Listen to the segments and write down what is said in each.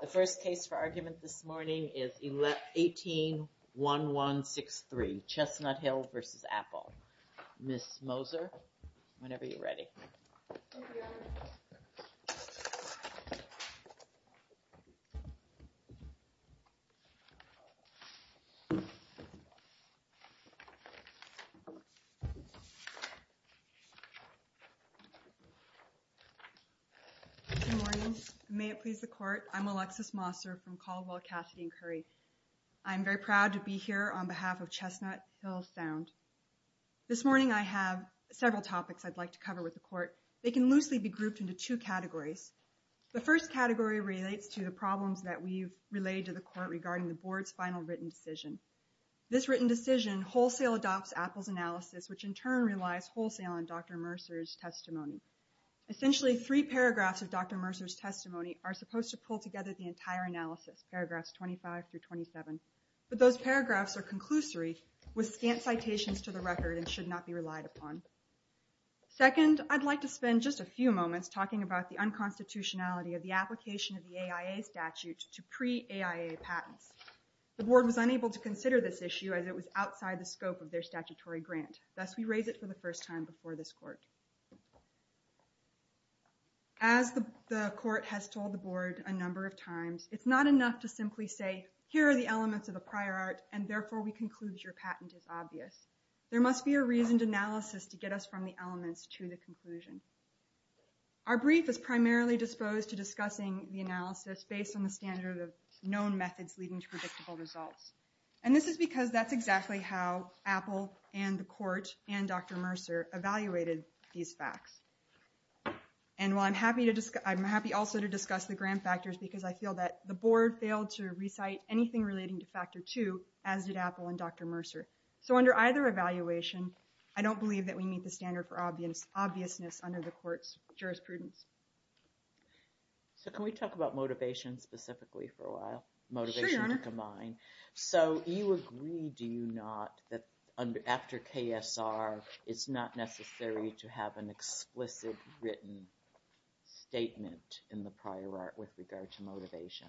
The first case for argument this morning is 18-1163, Chestnut Hill v. Apple. Ms. Moser, whenever you're ready. Thank you, Ellen. Good morning. May it please the court, I'm Alexis Moser from Caldwell, Cassidy and Curry. I'm very proud to be here on behalf of Chestnut Hill Sound. This morning I have several topics I'd like to cover with the court. They can loosely be grouped into two categories. The first category relates to the problems that we've relayed to the court regarding the board's final written decision. This written decision wholesale adopts Apple's analysis, which in turn relies wholesale on Dr. Mercer's testimony. Essentially, three paragraphs of Dr. Mercer's testimony are supposed to pull together the entire analysis, paragraphs 25 through 27. But those paragraphs are conclusory with scant citations to the record and should not be relied upon. Second, I'd like to spend just a few moments talking about the unconstitutionality of the application of the AIA statute to pre-AIA patents. The board was unable to consider this issue as it was outside the scope of their statutory grant. Thus, we raise it for the first time before this court. As the court has told the board a number of times, it's not enough to simply say, here are the elements of a prior art, and therefore we conclude your patent is obvious. There must be a reasoned analysis to get us from the elements to the conclusion. Our brief is primarily disposed to discussing the analysis based on the standard of known methods leading to predictable results. And this is because that's exactly how Apple and the court and Dr. Mercer evaluated these facts. And while I'm happy also to discuss the grant factors because I feel that the board failed to recite anything relating to factor two, as did Apple and Dr. Mercer. So under either evaluation, I don't believe that we meet the standard for obviousness under the court's jurisprudence. So can we talk about motivation specifically for a while? Sure, Your Honor. So you agree, do you not, that after KSR, it's not necessary to have an explicit written statement in the prior art with regard to motivation?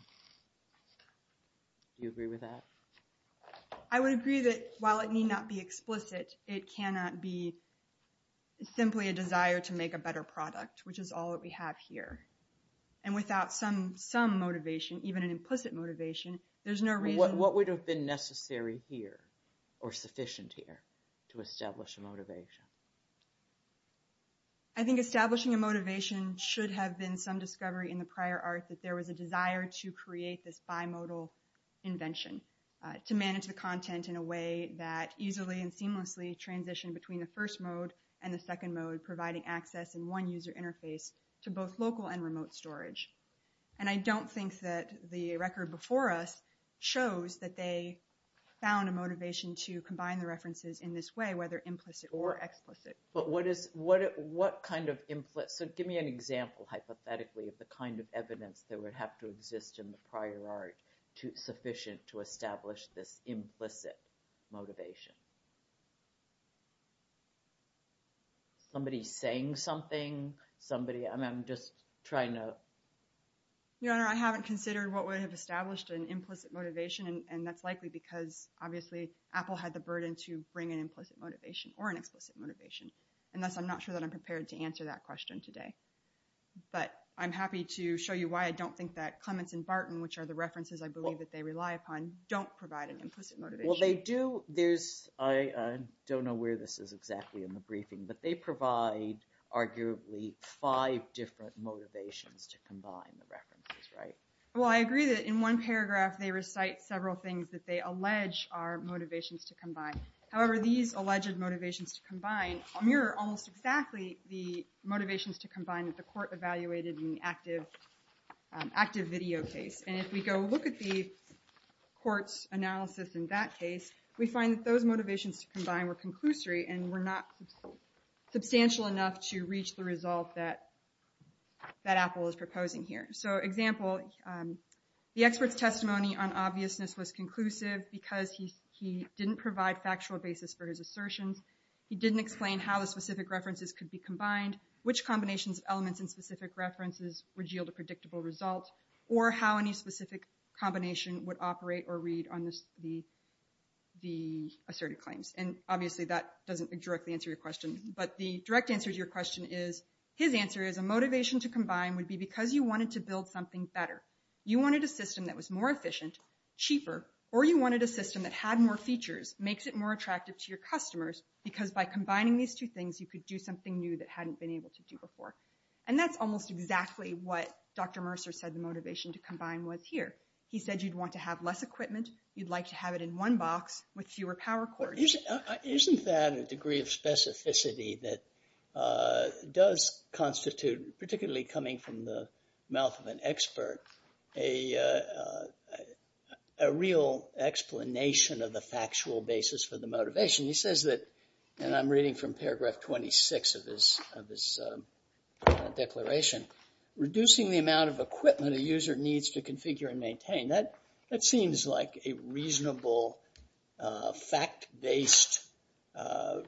Do you agree with that? I would agree that while it may not be explicit, it cannot be simply a desire to make a better product, which is all that we have here. And without some motivation, even an implicit motivation, there's no reason. What would have been necessary here or sufficient here to establish a motivation? I think establishing a motivation should have been some discovery in the prior art that there was a desire to create this bimodal invention to manage the content in a way that easily and seamlessly transitioned between the first mode and the second mode, providing access in one user interface to both local and remote storage. And I don't think that the record before us shows that they found a motivation to combine the references in this way, whether implicit or explicit. But what kind of implicit? Give me an example, hypothetically, of the kind of evidence that would have to exist in the prior art sufficient to establish this implicit motivation. Somebody saying something? Somebody? I'm just trying to. Your Honor, I haven't considered what would have established an implicit motivation. And that's likely because, obviously, Apple had the burden to bring an implicit motivation or an explicit motivation. And thus, I'm not sure that I'm prepared to answer that question today. But I'm happy to show you why I don't think that Clements and Barton, which are the references I believe that they rely upon, don't provide an implicit motivation. Well, they do. I don't know where this is exactly in the briefing. But they provide, arguably, five different motivations to combine the references, right? Well, I agree that in one paragraph, they recite several things that they allege are motivations to combine. However, these alleged motivations to combine mirror almost exactly the motivations to combine that the court evaluated in the active video case. And if we go look at the court's analysis in that case, we find that those motivations to combine were conclusory and were not substantial enough to reach the result that Apple is proposing here. So example, the expert's testimony on obviousness was conclusive because he didn't provide factual basis for his assertions. He didn't explain how the specific references could be combined, which combinations of elements in specific references would yield a predictable result, or how any specific combination would operate or read on the asserted claims. And obviously, that doesn't directly answer your question. But the direct answer to your question is, his answer is a motivation to combine would be because you wanted to build something better. You wanted a system that was more efficient, cheaper, or you wanted a system that had more features, makes it more attractive to your customers, because by combining these two things, you could do something new that hadn't been able to do before. And that's almost exactly what Dr. Mercer said the motivation to combine was here. He said you'd want to have less equipment. You'd like to have it in one box with fewer power cords. Isn't that a degree of specificity that does constitute, particularly coming from the mouth of an expert, a real explanation of the factual basis for the motivation? He says that, and I'm reading from paragraph 26 of his declaration, reducing the amount of equipment a user needs to configure and maintain. That seems like a reasonable fact-based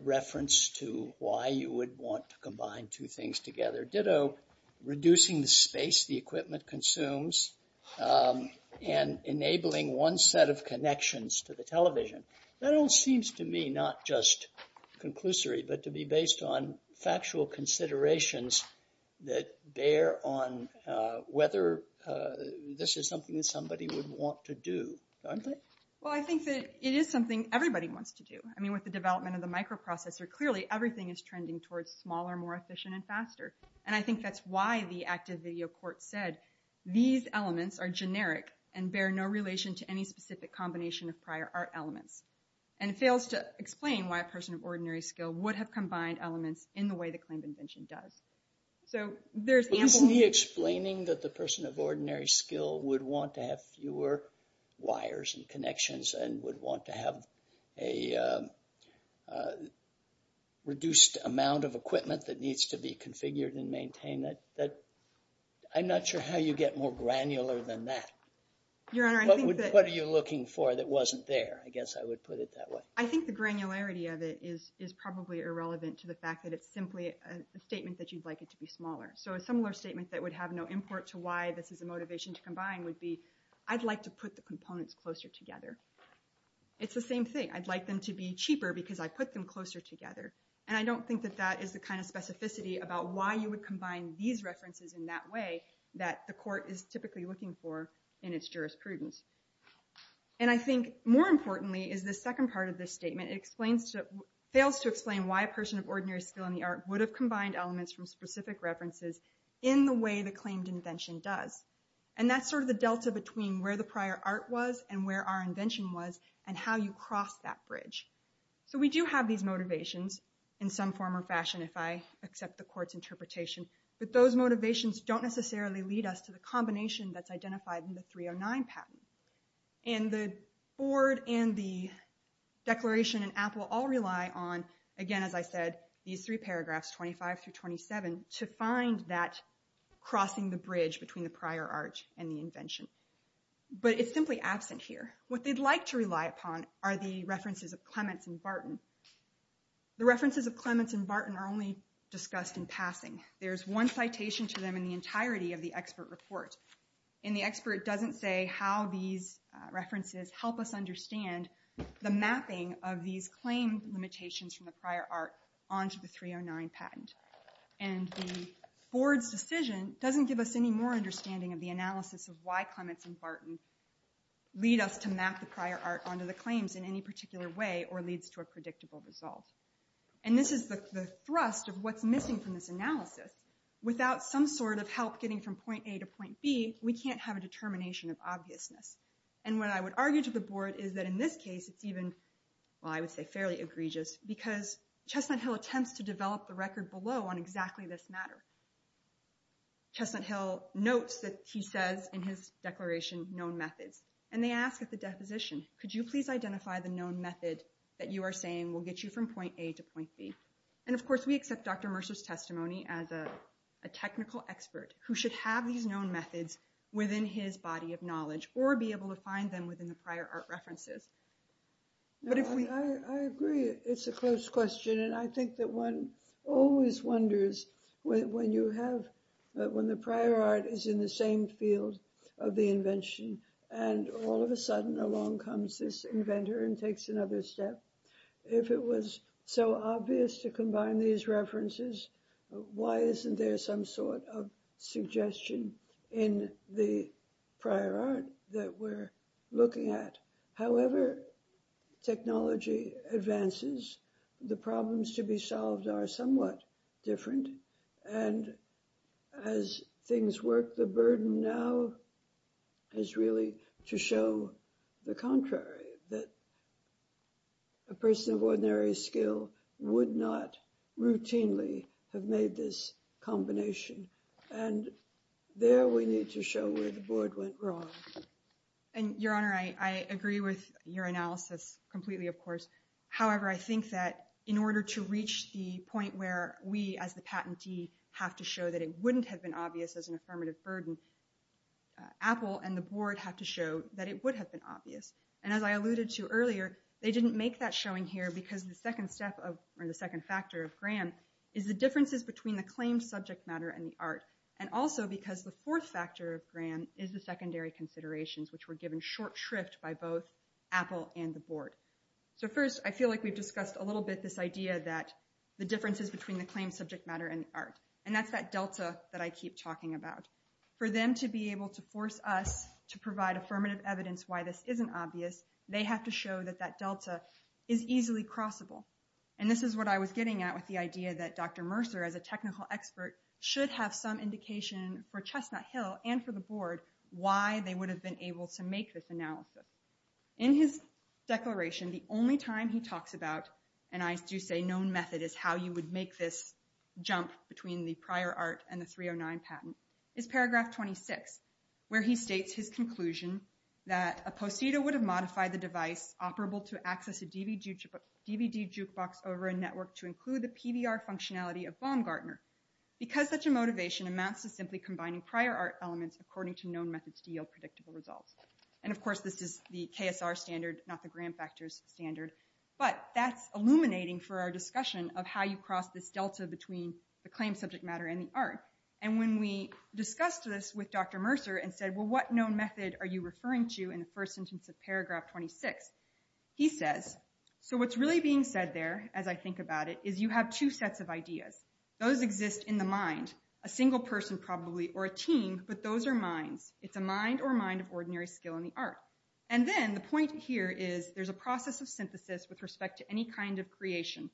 reference to why you would want to combine two things together. Ditto reducing the space the equipment consumes and enabling one set of connections to the television. That all seems to me not just conclusory, but to be based on factual considerations that bear on whether this is something somebody would want to do. Well, I think that it is something everybody wants to do. I mean, with the development of the microprocessor, clearly everything is trending towards smaller, more efficient and faster. And I think that's why the active video court said, these elements are generic and bear no relation to any specific combination of prior art elements. And it fails to explain why a person of ordinary skill would have combined elements in the way the claim of invention does. So there's ample- Isn't he explaining that the person of ordinary skill would want to have fewer wires and connections and would want to have a reduced amount of equipment that needs to be configured and maintained? I'm not sure how you get more granular than that. Your Honor, I think that- What are you looking for that wasn't there? I guess I would put it that way. I think the granularity of it is probably irrelevant to the fact that it's simply a statement that you'd like it to be smaller. So a similar statement that would have no import to why this is a motivation to combine would be, I'd like to put the components closer together. It's the same thing. I'd like them to be cheaper because I put them closer together. And I don't think that that is the kind of specificity about why you would combine these references in that way that the court is typically looking for in its jurisprudence. And I think more importantly is the second part of this statement. It fails to explain why a person of ordinary skill in the art would have combined elements from specific references in the way the claimed invention does. And that's sort of the delta between where the prior art was and where our invention was and how you cross that bridge. So we do have these motivations in some form or fashion if I accept the court's interpretation, but those motivations don't necessarily lead us to the combination that's identified in the 309 patent. And the board and the declaration in Apple all rely on, again, as I said, these three paragraphs, 25 through 27, to find that crossing the bridge between the prior art and the invention. But it's simply absent here. What they'd like to rely upon are the references of Clements and Barton. The references of Clements and Barton are only discussed in passing. There's one citation to them in the entirety of the expert report. And the expert doesn't say how these references help us understand the mapping of these claimed limitations from the prior art onto the 309 patent. And the board's decision doesn't give us any more understanding of the analysis of why Clements and Barton lead us to map the prior art onto the claims in any particular way or leads to a predictable result. And this is the thrust of what's missing from this analysis. Without some sort of help getting from point A to point B, we can't have a determination of obviousness. And what I would argue to the board is that in this case, it's even, well, I would say fairly egregious, because Chestnut Hill attempts to develop the record below on exactly this matter. Chestnut Hill notes that he says in his declaration, known methods. And they ask at the deposition, could you please identify the known method that you are saying will get you from point A to point B? And of course, we accept Dr. Mercer's testimony as a technical expert who should have these known methods within his body of knowledge or be able to find them within the prior art references. But if we- One always wonders when you have, when the prior art is in the same field of the invention, and all of a sudden along comes this inventor and takes another step, if it was so obvious to combine these references, why isn't there some sort of suggestion in the prior art that we're looking at? However, technology advances, the problems to be solved are somewhat different. And as things work, the burden now is really to show the contrary, that a person of ordinary skill would not routinely have made this combination. And there we need to show where the board went wrong. of course. However, I think that in order to reach the point where we as the patentee have to show that it wouldn't have been obvious as an affirmative burden, Apple and the board have to show that it would have been obvious. And as I alluded to earlier, they didn't make that showing here because the second step of, or the second factor of Graham is the differences between the claimed subject matter and the art. And also because the fourth factor of Graham is the secondary considerations which were given short shrift by both Apple and the board. So first, I feel like we've discussed a little bit this idea that the differences between the claimed subject matter and art. And that's that Delta that I keep talking about. For them to be able to force us to provide affirmative evidence why this isn't obvious, they have to show that that Delta is easily crossable. And this is what I was getting at with the idea that Dr. Mercer as a technical expert should have some indication for Chestnut Hill and for the board why they would have been able to make this analysis. In his declaration, the only time he talks about, and I do say known method is how you would make this jump between the prior art and the 309 patent, is paragraph 26, where he states his conclusion that a postida would have modified the device operable to access a DVD jukebox over a network to include the PBR functionality of Baumgartner. Because such a motivation amounts to simply combining prior art elements according to known methods to yield predictable results. And of course, this is the KSR standard, not the gram factors standard. But that's illuminating for our discussion of how you cross this Delta between the claim subject matter and the art. And when we discussed this with Dr. Mercer and said, well, what known method are you referring to in the first sentence of paragraph 26? He says, so what's really being said there, as I think about it, is you have two sets of ideas. Those exist in the mind, a single person probably, or a team, but those are minds. It's a mind or mind of ordinary skill in the art. And then the point here is there's a process of synthesis with respect to any kind of creation.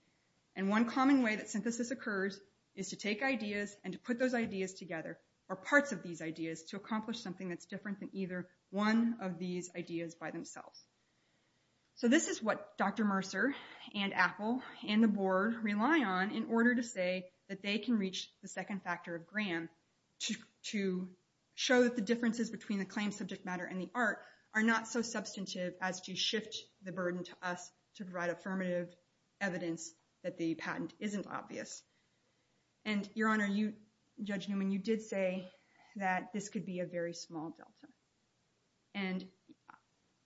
And one common way that synthesis occurs is to take ideas and to put those ideas together, or parts of these ideas, to accomplish something that's different than either one of these ideas by themselves. So this is what Dr. Mercer and Apple and the board rely on in order to say that they can reach the second factor of gram to show that the differences between the claim subject matter and the art are not so substantive as to shift the burden to us to provide affirmative evidence that the patent isn't obvious. And your honor, Judge Newman, you did say that this could be a very small delta. And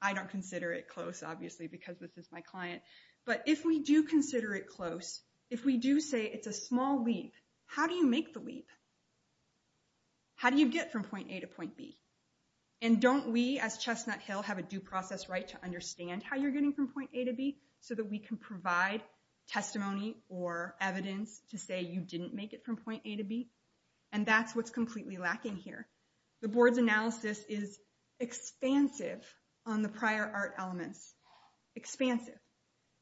I don't consider it close, obviously, because this is my client. But if we do consider it close, if we do say it's a small leap, how do you make the leap? How do you get from point A to point B? And don't we, as Chestnut Hill, have a due process right to understand how you're getting from point A to B so that we can provide testimony or evidence to say you didn't make it from point A to B? And that's what's completely lacking here. The board's analysis is expansive on the prior art elements, expansive.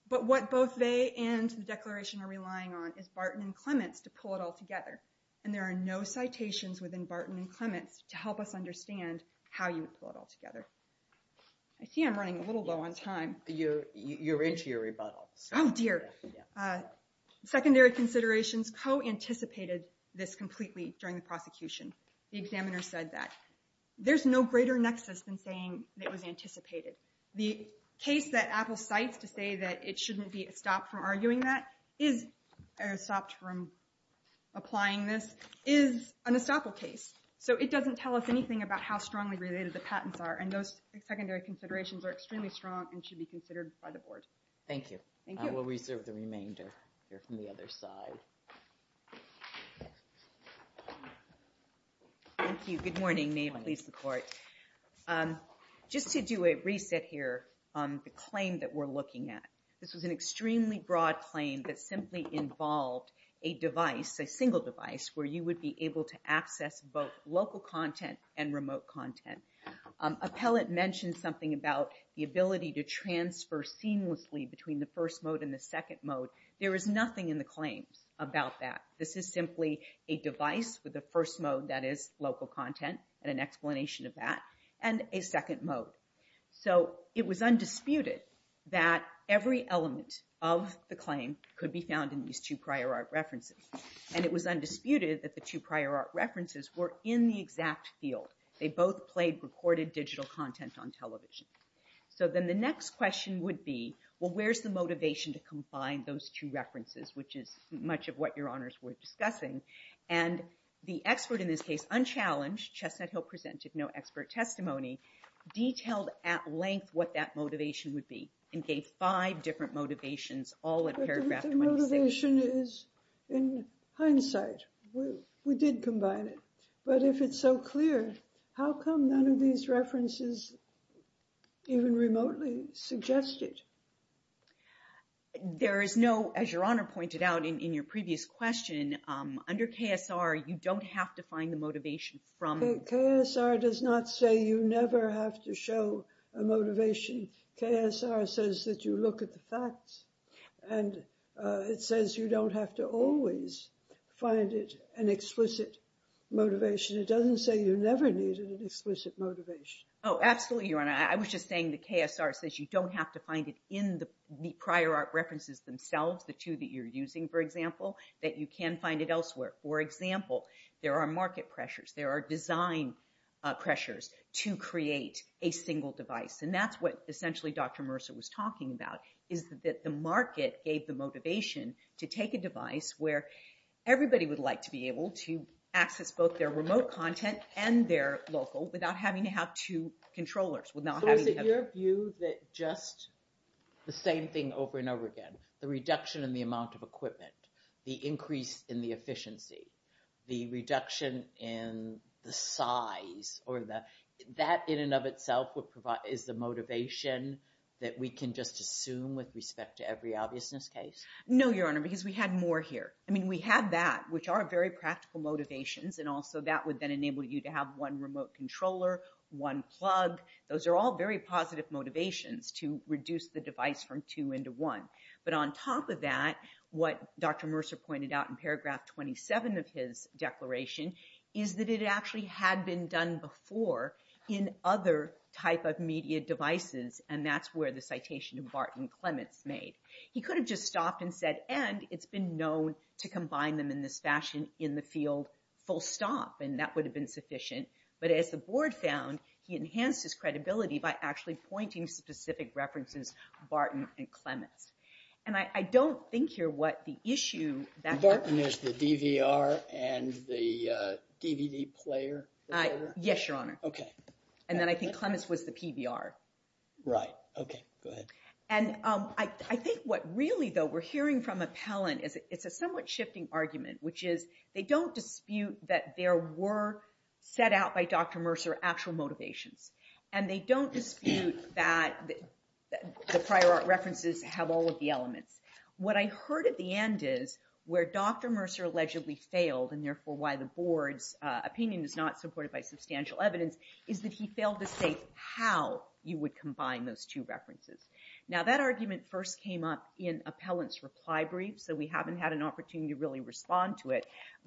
But what both they and the declaration are relying on is Barton and Clements to pull it all together. And there are no citations within Barton and Clements to help us understand how you would pull it all together. I see I'm running a little low on time. You're into your rebuttal. Oh, dear. Secondary considerations co-anticipated this completely during the prosecution. The examiner said that. There's no greater nexus than saying it was anticipated. The case that Apple cites to say that it shouldn't be stopped from arguing that, or stopped from applying this, is an estoppel case. So it doesn't tell us anything about how strongly related the patents are. And those secondary considerations are extremely strong and should be considered by the board. Thank you. Thank you. I will reserve the remainder here from the other side. Thank you. Good morning. May it please the court. Just to do a reset here on the claim that we're looking at. This was an extremely broad claim that simply involved a device, a single device, where you would be able to access both local content and remote content. Appellate mentioned something about the ability to transfer seamlessly between the first mode and the second mode. There is nothing in the claims about that. This is simply a device with a first mode that is local content, and an explanation of that, and a second mode. So it was undisputed that every element of the claim could be found in these two prior art references. And it was undisputed that the two prior art references were in the exact field. They both played recorded digital content on television. So then the next question would be, well, where's the motivation to combine those two references, which is much of what your honors were discussing. And the expert in this case, unchallenged, Chestnut Hill presented no expert testimony, detailed at length what that motivation would be, and gave five different motivations, all in paragraph 26. But the motivation is in hindsight. We did combine it. But if it's so clear, how come none of these references even remotely suggest it? There is no, as your honor pointed out in your previous question, under KSR, you don't have to find the motivation from. KSR does not say you never have to show a motivation. KSR says that you look at the facts. And it says you don't have to always find it an explicit motivation. It doesn't say you never needed an explicit motivation. Oh, absolutely, your honor. I was just saying the KSR says you don't have to find it in the prior art references themselves, the two that you're using, for example, that you can find it elsewhere. For example, there are market pressures. There are design pressures to create a single device. And that's what essentially Dr. Mercer was talking about, is that the market gave the motivation to take a device where everybody would like to be able to access both their remote content and their local without having to have two controllers, without having to have- So is it your view that just the same thing over and over again, the reduction in the amount of equipment, the increase in the efficiency, the reduction in the size, or that in and of itself is the motivation that we can just assume with respect to every obviousness case? No, your honor, because we had more here. I mean, we have that, which are very practical motivations. And also that would then enable you to have one remote controller, one plug. Those are all very positive motivations to reduce the device from two into one. But on top of that, what Dr. Mercer pointed out in paragraph 27 of his declaration is that it actually had been done before in other type of media devices. And that's where the citation of Barton and Clements made. He could have just stopped and said, and it's been known to combine them in this fashion in the field full stop, and that would have been sufficient. But as the board found, he enhanced his credibility by actually pointing specific references, Barton and Clements. And I don't think you're what the issue- So Barton is the DVR and the DVD player? Yes, your honor. Okay. And then I think Clements was the PBR. Right, okay, go ahead. And I think what really though we're hearing from Appellant is it's a somewhat shifting argument, which is they don't dispute that there were set out by Dr. Mercer actual motivations. And they don't dispute that the prior art references have all of the elements. What I heard at the end is where Dr. Mercer allegedly failed and therefore why the board's opinion is not supported by substantial evidence is that he failed to say how you would combine those two references. Now that argument first came up in Appellant's reply brief, so we haven't had an opportunity to really respond to it.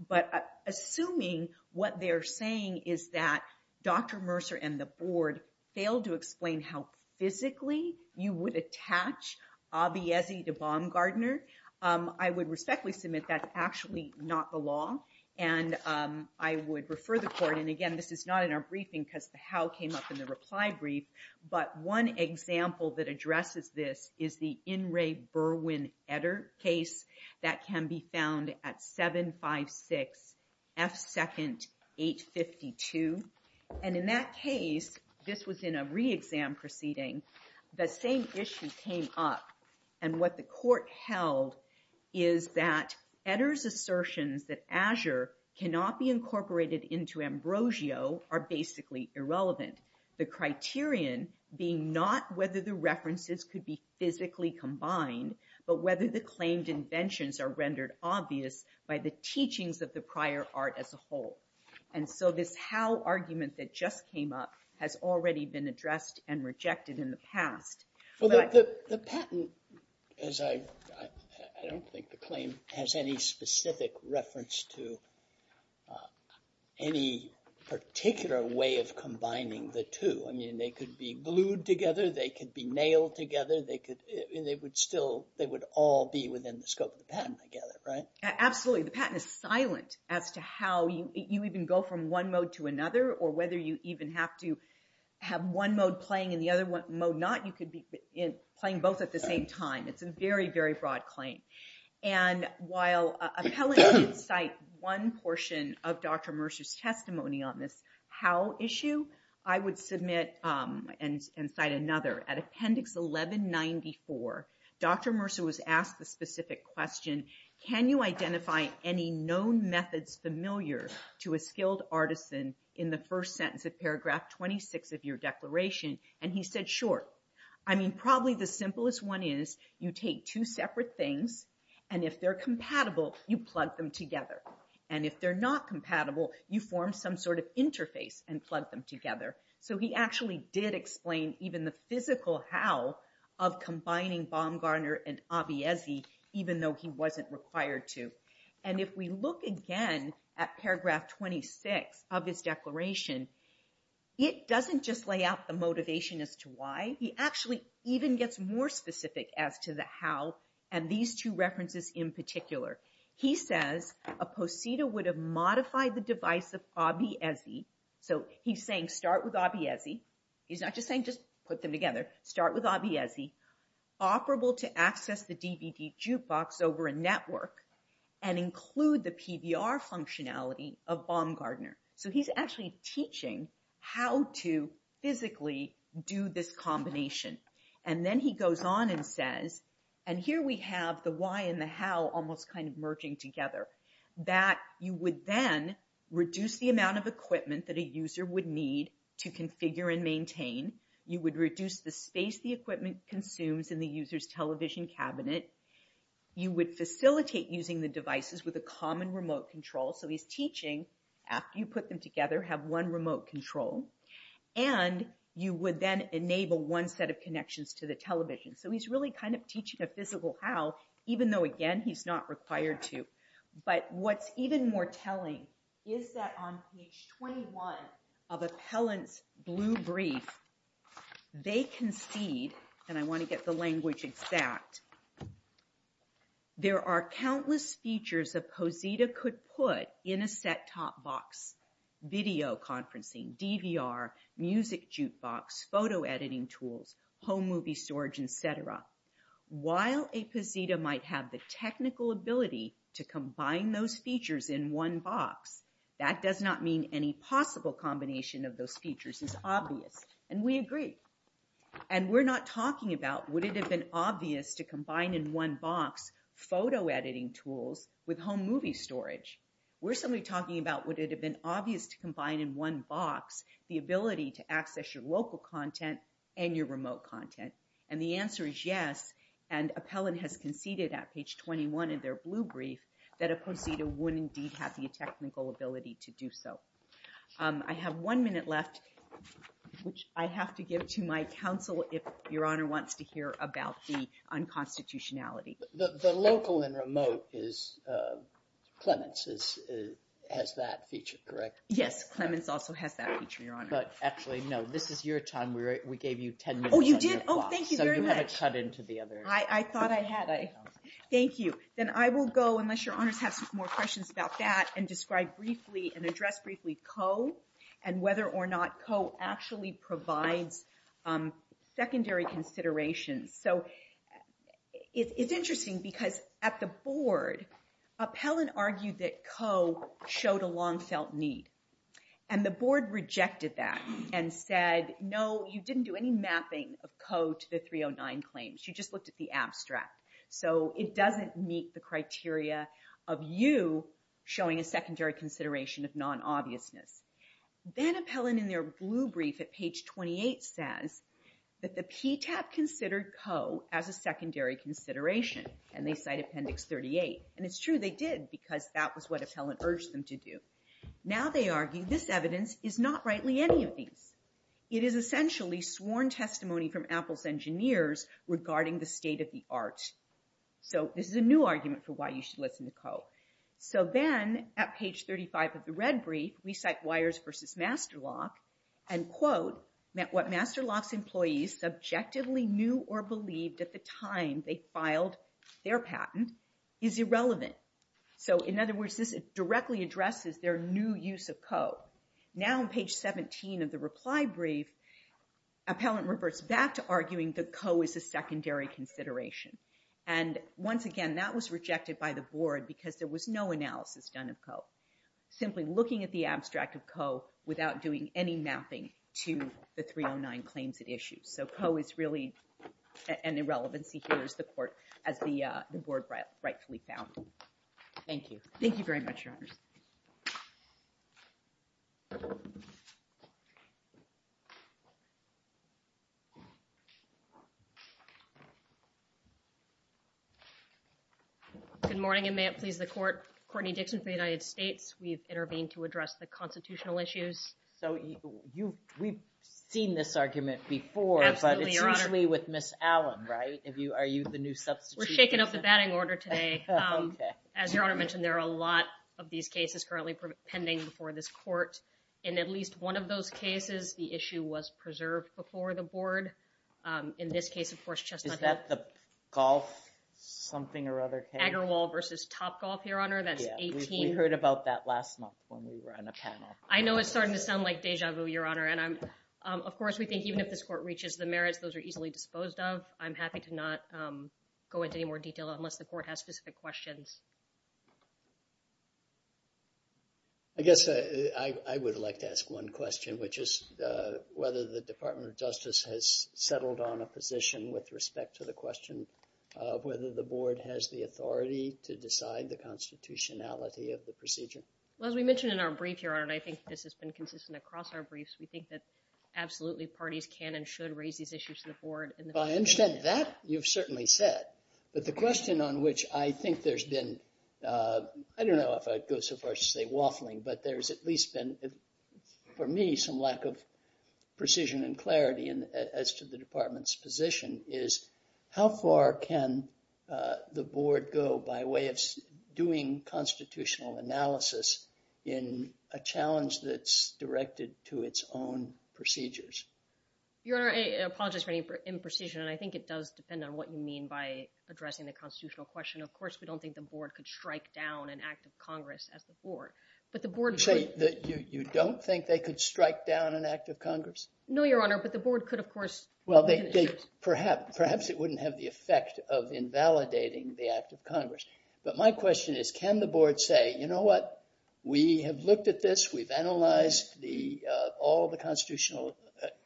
But assuming what they're saying is that Dr. Mercer and the board failed to explain how physically you would attach Abiezi to Baumgardner, I would respectfully submit that's actually not the law. And I would refer the court, and again, this is not in our briefing because the how came up in the reply brief. But one example that addresses this is the In Re Burwin-Edder case that can be found at 756 F. Second, 852. And in that case, this was in a re-exam proceeding, the same issue came up. And what the court held is that Edder's assertions that Azure cannot be incorporated into Ambrosio are basically irrelevant. The criterion being not whether the references could be physically combined, but whether the claimed inventions are rendered obvious by the teachings of the prior art as a whole. And so this how argument that just came up has already been addressed and rejected in the past. But- The patent, as I don't think the claim has any specific reference to any particular way of combining the two. I mean, they could be glued together, they could be nailed together, they could, and they would still, they would all be within the scope of the patent together, right? Absolutely, the patent is silent as to how you even go from one mode to another, or whether you even have to have one mode playing and the other mode not, you could be playing both at the same time. It's a very, very broad claim. And while appellate could cite one portion of Dr. Mercer's testimony on this how issue, I would submit and cite another. At appendix 1194, Dr. Mercer was asked the specific question, can you identify any known methods familiar to a skilled artisan in the first sentence of paragraph 26 of your declaration? And he said, sure. I mean, probably the simplest one is you take two separate things, and if they're compatible, you plug them together. And if they're not compatible, you form some sort of interface and plug them together. So he actually did explain even the physical how of combining Baumgartner and Abbiezzi, even though he wasn't required to. And if we look again at paragraph 26 of his declaration, it doesn't just lay out the motivation as to why, he actually even gets more specific as to the how, and these two references in particular. He says, a posita would have modified the device of Abbiezzi. So he's saying, start with Abbiezzi. He's not just saying, just put them together. Start with Abbiezzi. Operable to access the DVD jukebox over a network and include the PBR functionality of Baumgartner. So he's actually teaching how to physically do this combination. And then he goes on and says, and here we have the why and the how almost kind of merging together, that you would then reduce the amount of equipment that a user would need to configure and maintain. You would reduce the space the equipment consumes in the user's television cabinet. You would facilitate using the devices with a common remote control. So he's teaching, after you put them together, have one remote control. And you would then enable one set of connections to the television. So he's really kind of teaching a physical how, even though again, he's not required to. But what's even more telling is that on page 21 of Appellant's blue brief, they concede, and I wanna get the language exact. There are countless features a Posita could put in a set-top box. Video conferencing, DVR, music jukebox, photo editing tools, home movie storage, et cetera. While a Posita might have the technical ability to combine those features in one box, that does not mean any possible combination of those features is obvious. And we agree. And we're not talking about would it have been obvious to combine in one box photo editing tools with home movie storage. We're simply talking about would it have been obvious to combine in one box the ability to access your local content and your remote content. And the answer is yes. And Appellant has conceded at page 21 of their blue brief that a Posita would indeed have the technical ability to do so. I have one minute left, which I have to give to my counsel if Your Honor wants to hear about the unconstitutionality. The local and remote is, Clemens has that feature, correct? Yes, Clemens also has that feature, Your Honor. But actually, no, this is your time. We gave you 10 minutes on your clock. Oh, you did? Oh, thank you very much. So you haven't cut into the other. I thought I had. Thank you. Then I will go, unless Your Honors have some more questions about that, and describe briefly and address briefly COE and whether or not COE actually provides secondary considerations. So it's interesting because at the board, Appellant argued that COE showed a long-felt need. And the board rejected that and said, no, you didn't do any mapping of COE to the 309 claims. You just looked at the abstract. So it doesn't meet the criteria of you showing a secondary consideration of non-obviousness. Then Appellant, in their blue brief at page 28, says that the PTAP considered COE as a secondary consideration, and they cite Appendix 38. And it's true, they did, because that was what Appellant urged them to do. Now they argue this evidence is not rightly any of these. It is essentially sworn testimony from Apple's engineers regarding the state of the art. So this is a new argument for why you should listen to COE. So then, at page 35 of the red brief, we cite Weyers v. Masterlock, and quote, met what Masterlock's employees subjectively knew or believed at the time they filed their patent is irrelevant. So in other words, this directly addresses their new use of COE. Now on page 17 of the reply brief, Appellant reverts back to arguing that COE is a secondary consideration. And once again, that was rejected by the board because there was no analysis done of COE, simply looking at the abstract of COE without doing any mapping to the 309 claims it issues. So COE is really an irrelevancy here, as the court, as the board rightfully found. Thank you. Thank you very much, Your Honors. Good morning, and may it please the court. Courtney Dixon for the United States. We've intervened to address the constitutional issues. So we've seen this argument before, but it's usually with Ms. Allen, right? Are you the new substitute? We're shaking up the batting order today. As Your Honor mentioned, there are a lot of these cases currently pending before this court. was with the state of the art. And the state of the art, as you know, was preserved before the board. In this case, of course, Chestnut Hill. Is that the golf something or other case? Agarwal versus Topgolf, Your Honor. That's 18. We heard about that last month when we were on a panel. I know it's starting to sound like deja vu, Your Honor. And of course, we think even if this court reaches the merits, those are easily disposed of. I'm happy to not go into any more detail unless the court has specific questions. I guess I would like to ask one question, which is whether the Department of Justice has settled on a position with respect to the question of whether the board has the authority to decide the constitutionality of the procedure. Well, as we mentioned in our brief, Your Honor, I think this has been consistent across our briefs. We think that absolutely parties can and should raise these issues to the board. I understand that. You've certainly said. But the question on which I think there's been, I don't know if I'd go so far as to say waffling, but there's at least been, for me, some lack of precision and clarity as to the department's position is, how far can the board go by way of doing constitutional analysis in a challenge that's directed to its own procedures? Your Honor, I apologize for any imprecision. And I think it does depend on what you mean by addressing the constitutional question. Of course, we don't think the board could strike down an act of Congress as the board. So you don't think they could strike down an act of Congress? No, Your Honor, but the board could, of course. Well, perhaps it wouldn't have the effect of invalidating the act of Congress. But my question is, can the board say, you know what, we have looked at this, we've analyzed all the constitutional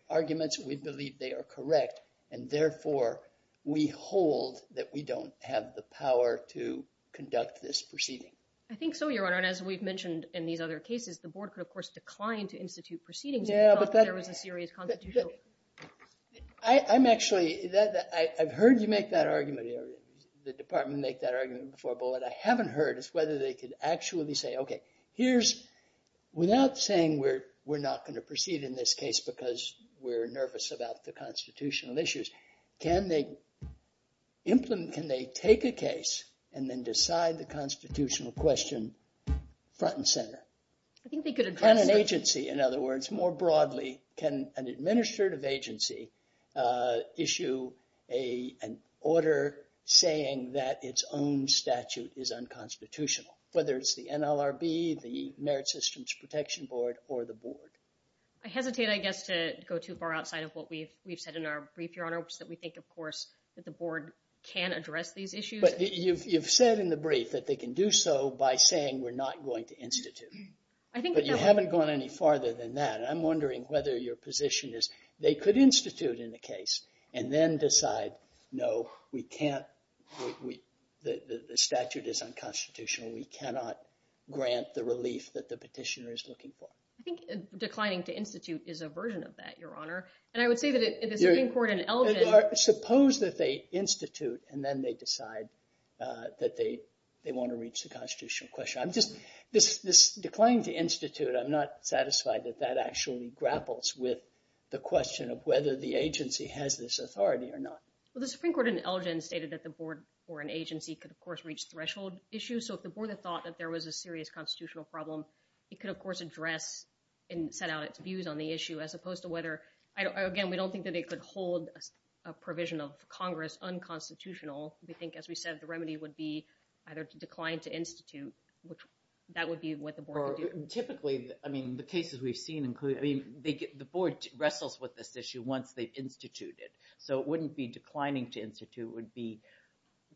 arguments, we believe they are correct. And therefore, we hold that we don't have the power to conduct this proceeding. I think so, Your Honor. And as we've mentioned in these other cases, the board could, of course, decline to institute proceedings if it felt that there was a serious constitutional issue. I'm actually, I've heard you make that argument here. The department made that argument before, but what I haven't heard is whether they could actually say, OK, here's, without saying we're not going to proceed in this case because we're nervous about the constitutional issues, can they implement, can they take a case and then decide the constitutional question front and center? I think they could address it. And an agency, in other words, more broadly, can an administrative agency issue an order saying that its own statute is unconstitutional, whether it's the NLRB, the Merit Systems Protection Board, or the board? I hesitate, I guess, to go too far outside of what we've said in our brief, Your Honor, which is that we think, of course, that the board can address these issues. But you've said in the brief that they can do so by saying we're not going to institute. But you haven't gone any farther than that. I'm wondering whether your position is they could institute in the case and then decide, no, we can't, the statute is unconstitutional. We cannot grant the relief that the petitioner is looking for. I think declining to institute is a version of that, Your Honor. And I would say that it is in court and elegant. Suppose that they institute, and then they decide that they want to reach the constitutional question. I'm just, this decline to institute, I'm not satisfied that that actually grapples with the question of whether the agency has this authority or not. Well, the Supreme Court in Elgin stated that the board or an agency could, of course, reach threshold issues. So if the board had thought that there was a serious constitutional problem, it could, of course, address and set out its views on the issue, as opposed to whether, again, we don't think that it could hold a provision of Congress unconstitutional. We think, as we said, the remedy would be either to decline to institute, which that would be what the board would do. Typically, I mean, the cases we've seen include, I mean, the board wrestles with this issue once they've instituted. So it wouldn't be declining to institute. It would be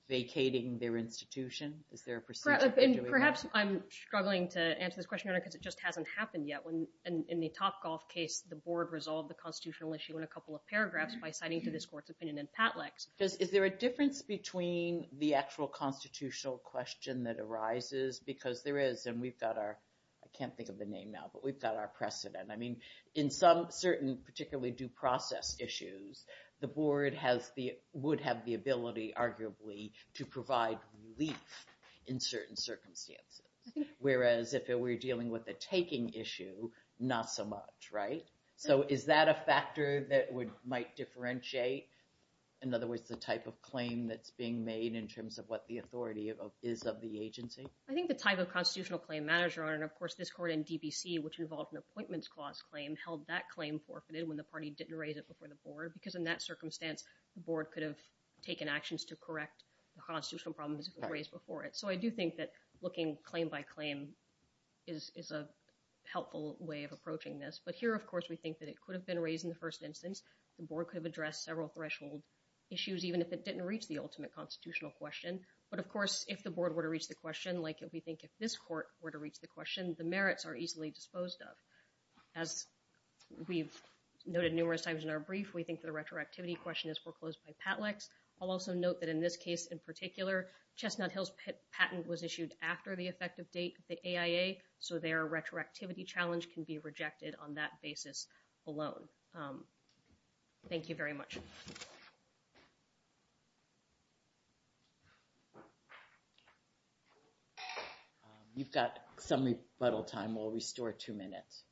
vacating their institution. Is there a procedure for doing that? Perhaps I'm struggling to answer this question, Your Honor, because it just hasn't happened yet. In the Topgolf case, the board resolved the constitutional issue in a couple of paragraphs by citing to this court's opinion in Patlex. Is there a difference between the actual constitutional question that arises? Because there is. And we've got our, I can't think of the name now, but we've got our precedent. I mean, in some certain, particularly due process issues, the board would have the ability, arguably, to provide relief in certain circumstances. Whereas if it were dealing with the taking issue, not so much, right? So is that a factor that might differentiate, in other words, the type of claim that's being made in terms of what the authority is of the agency? I think the type of constitutional claim manager, Your Honor, and of course this court in DBC, which involved an appointments clause claim, held that claim forfeited when the party didn't raise it before the board, because in that circumstance, the board could have taken actions to correct the constitutional problems raised before it. So I do think that looking claim by claim is a helpful way of approaching this. But here, of course, we think that it could have been raised in the first instance. The board could have addressed several threshold issues, even if it didn't reach the ultimate constitutional question. But of course, if the board were to reach the question, like if we think if this court were to reach the question, the merits are easily disposed of. As we've noted numerous times in our brief, we think the retroactivity question is foreclosed by Patlex. I'll also note that in this case in particular, Chestnut Hill's patent was issued after the effective date of the AIA, so their retroactivity challenge can be rejected on that basis alone. Thank you very much. You've got some rebuttal time. We'll restore two minutes.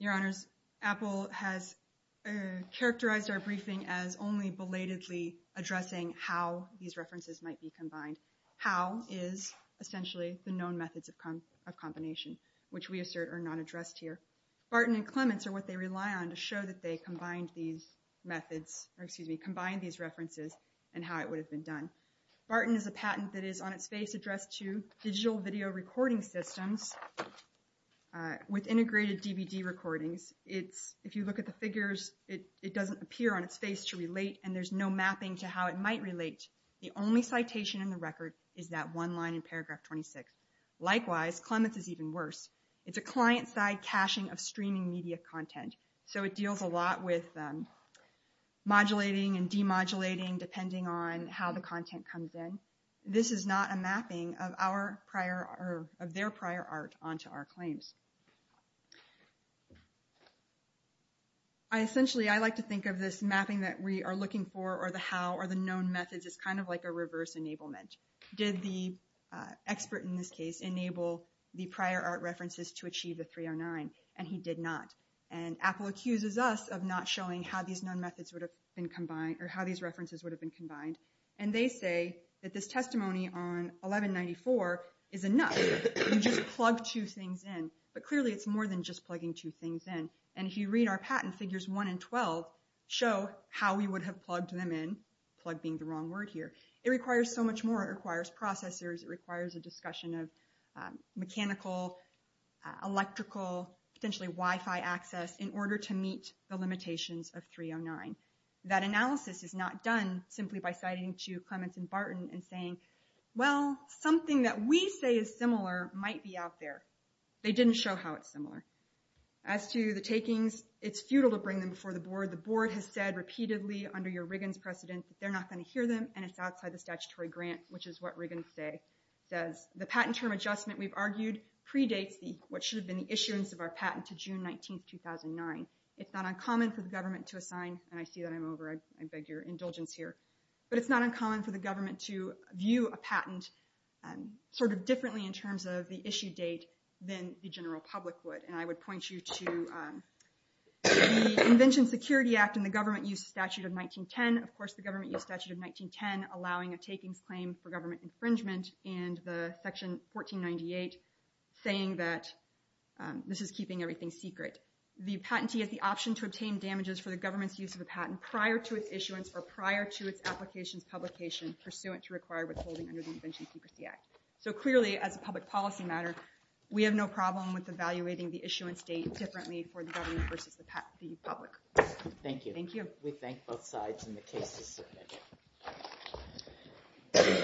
Your Honors, Apple has characterized our briefing as only belatedly addressing how these references might be combined. How is essentially the known methods of combination, which we assert are not addressed here. Barton and Clements are what they rely on to show that they combined these methods, or excuse me, combined these references and how it would have been done. Barton is a patent that is on its face addressed to digital video recording systems with integrated DVD recordings. If you look at the figures, it doesn't appear on its face to relate and there's no mapping to how it might relate. The only citation in the record is that one line in paragraph 26. Likewise, Clements is even worse. It's a client side caching of streaming media content, so it deals a lot with modulating and demodulating depending on how the content comes in. This is not a mapping of their prior art onto our claims. Essentially, I like to think of this mapping that we are looking for, or the how, or the known methods as kind of like a reverse enablement. Did the expert in this case enable the prior art references to achieve the 309? And he did not. And Apple accuses us of not showing how these known methods would have been combined, or how these references would have been combined. And they say that this testimony on 1194 is enough. You just plug two things in. But clearly, it's more than just plugging two things in. And if you read our patent, figures one and 12 show how we would have plugged them in, plug being the wrong word here. It requires so much more. It requires processors, it requires a discussion of mechanical, electrical, potentially Wi-Fi access in order to meet the limitations of 309. That analysis is not done simply by citing to Clements and Barton and saying, well, something that we say is similar might be out there. They didn't show how it's similar. As to the takings, it's futile to bring them before the board. The board has said repeatedly under your Riggins precedent that they're not gonna hear them, and it's outside the statutory grant, which is what Riggins says. The patent term adjustment, we've argued, predates what should have been the issuance of our patent to June 19th, 2009. It's not uncommon for the government to assign, and I see that I'm over, I beg your indulgence here. But it's not uncommon for the government to view a patent sort of differently in terms of the issue date than the general public would. And I would point you to the Invention Security Act and the Government Use Statute of 1910. Of course, the Government Use Statute of 1910 allowing a takings claim for government infringement and the section 1498 saying that this is keeping everything secret. The patentee has the option to obtain damages for the government's use of a patent prior to its issuance or prior to its application's do it to require withholding under the Invention Secrecy Act. So clearly, as a public policy matter, we have no problem with evaluating the issuance date differently for the government versus the public. Thank you. Thank you. We thank both sides and the case is submitted.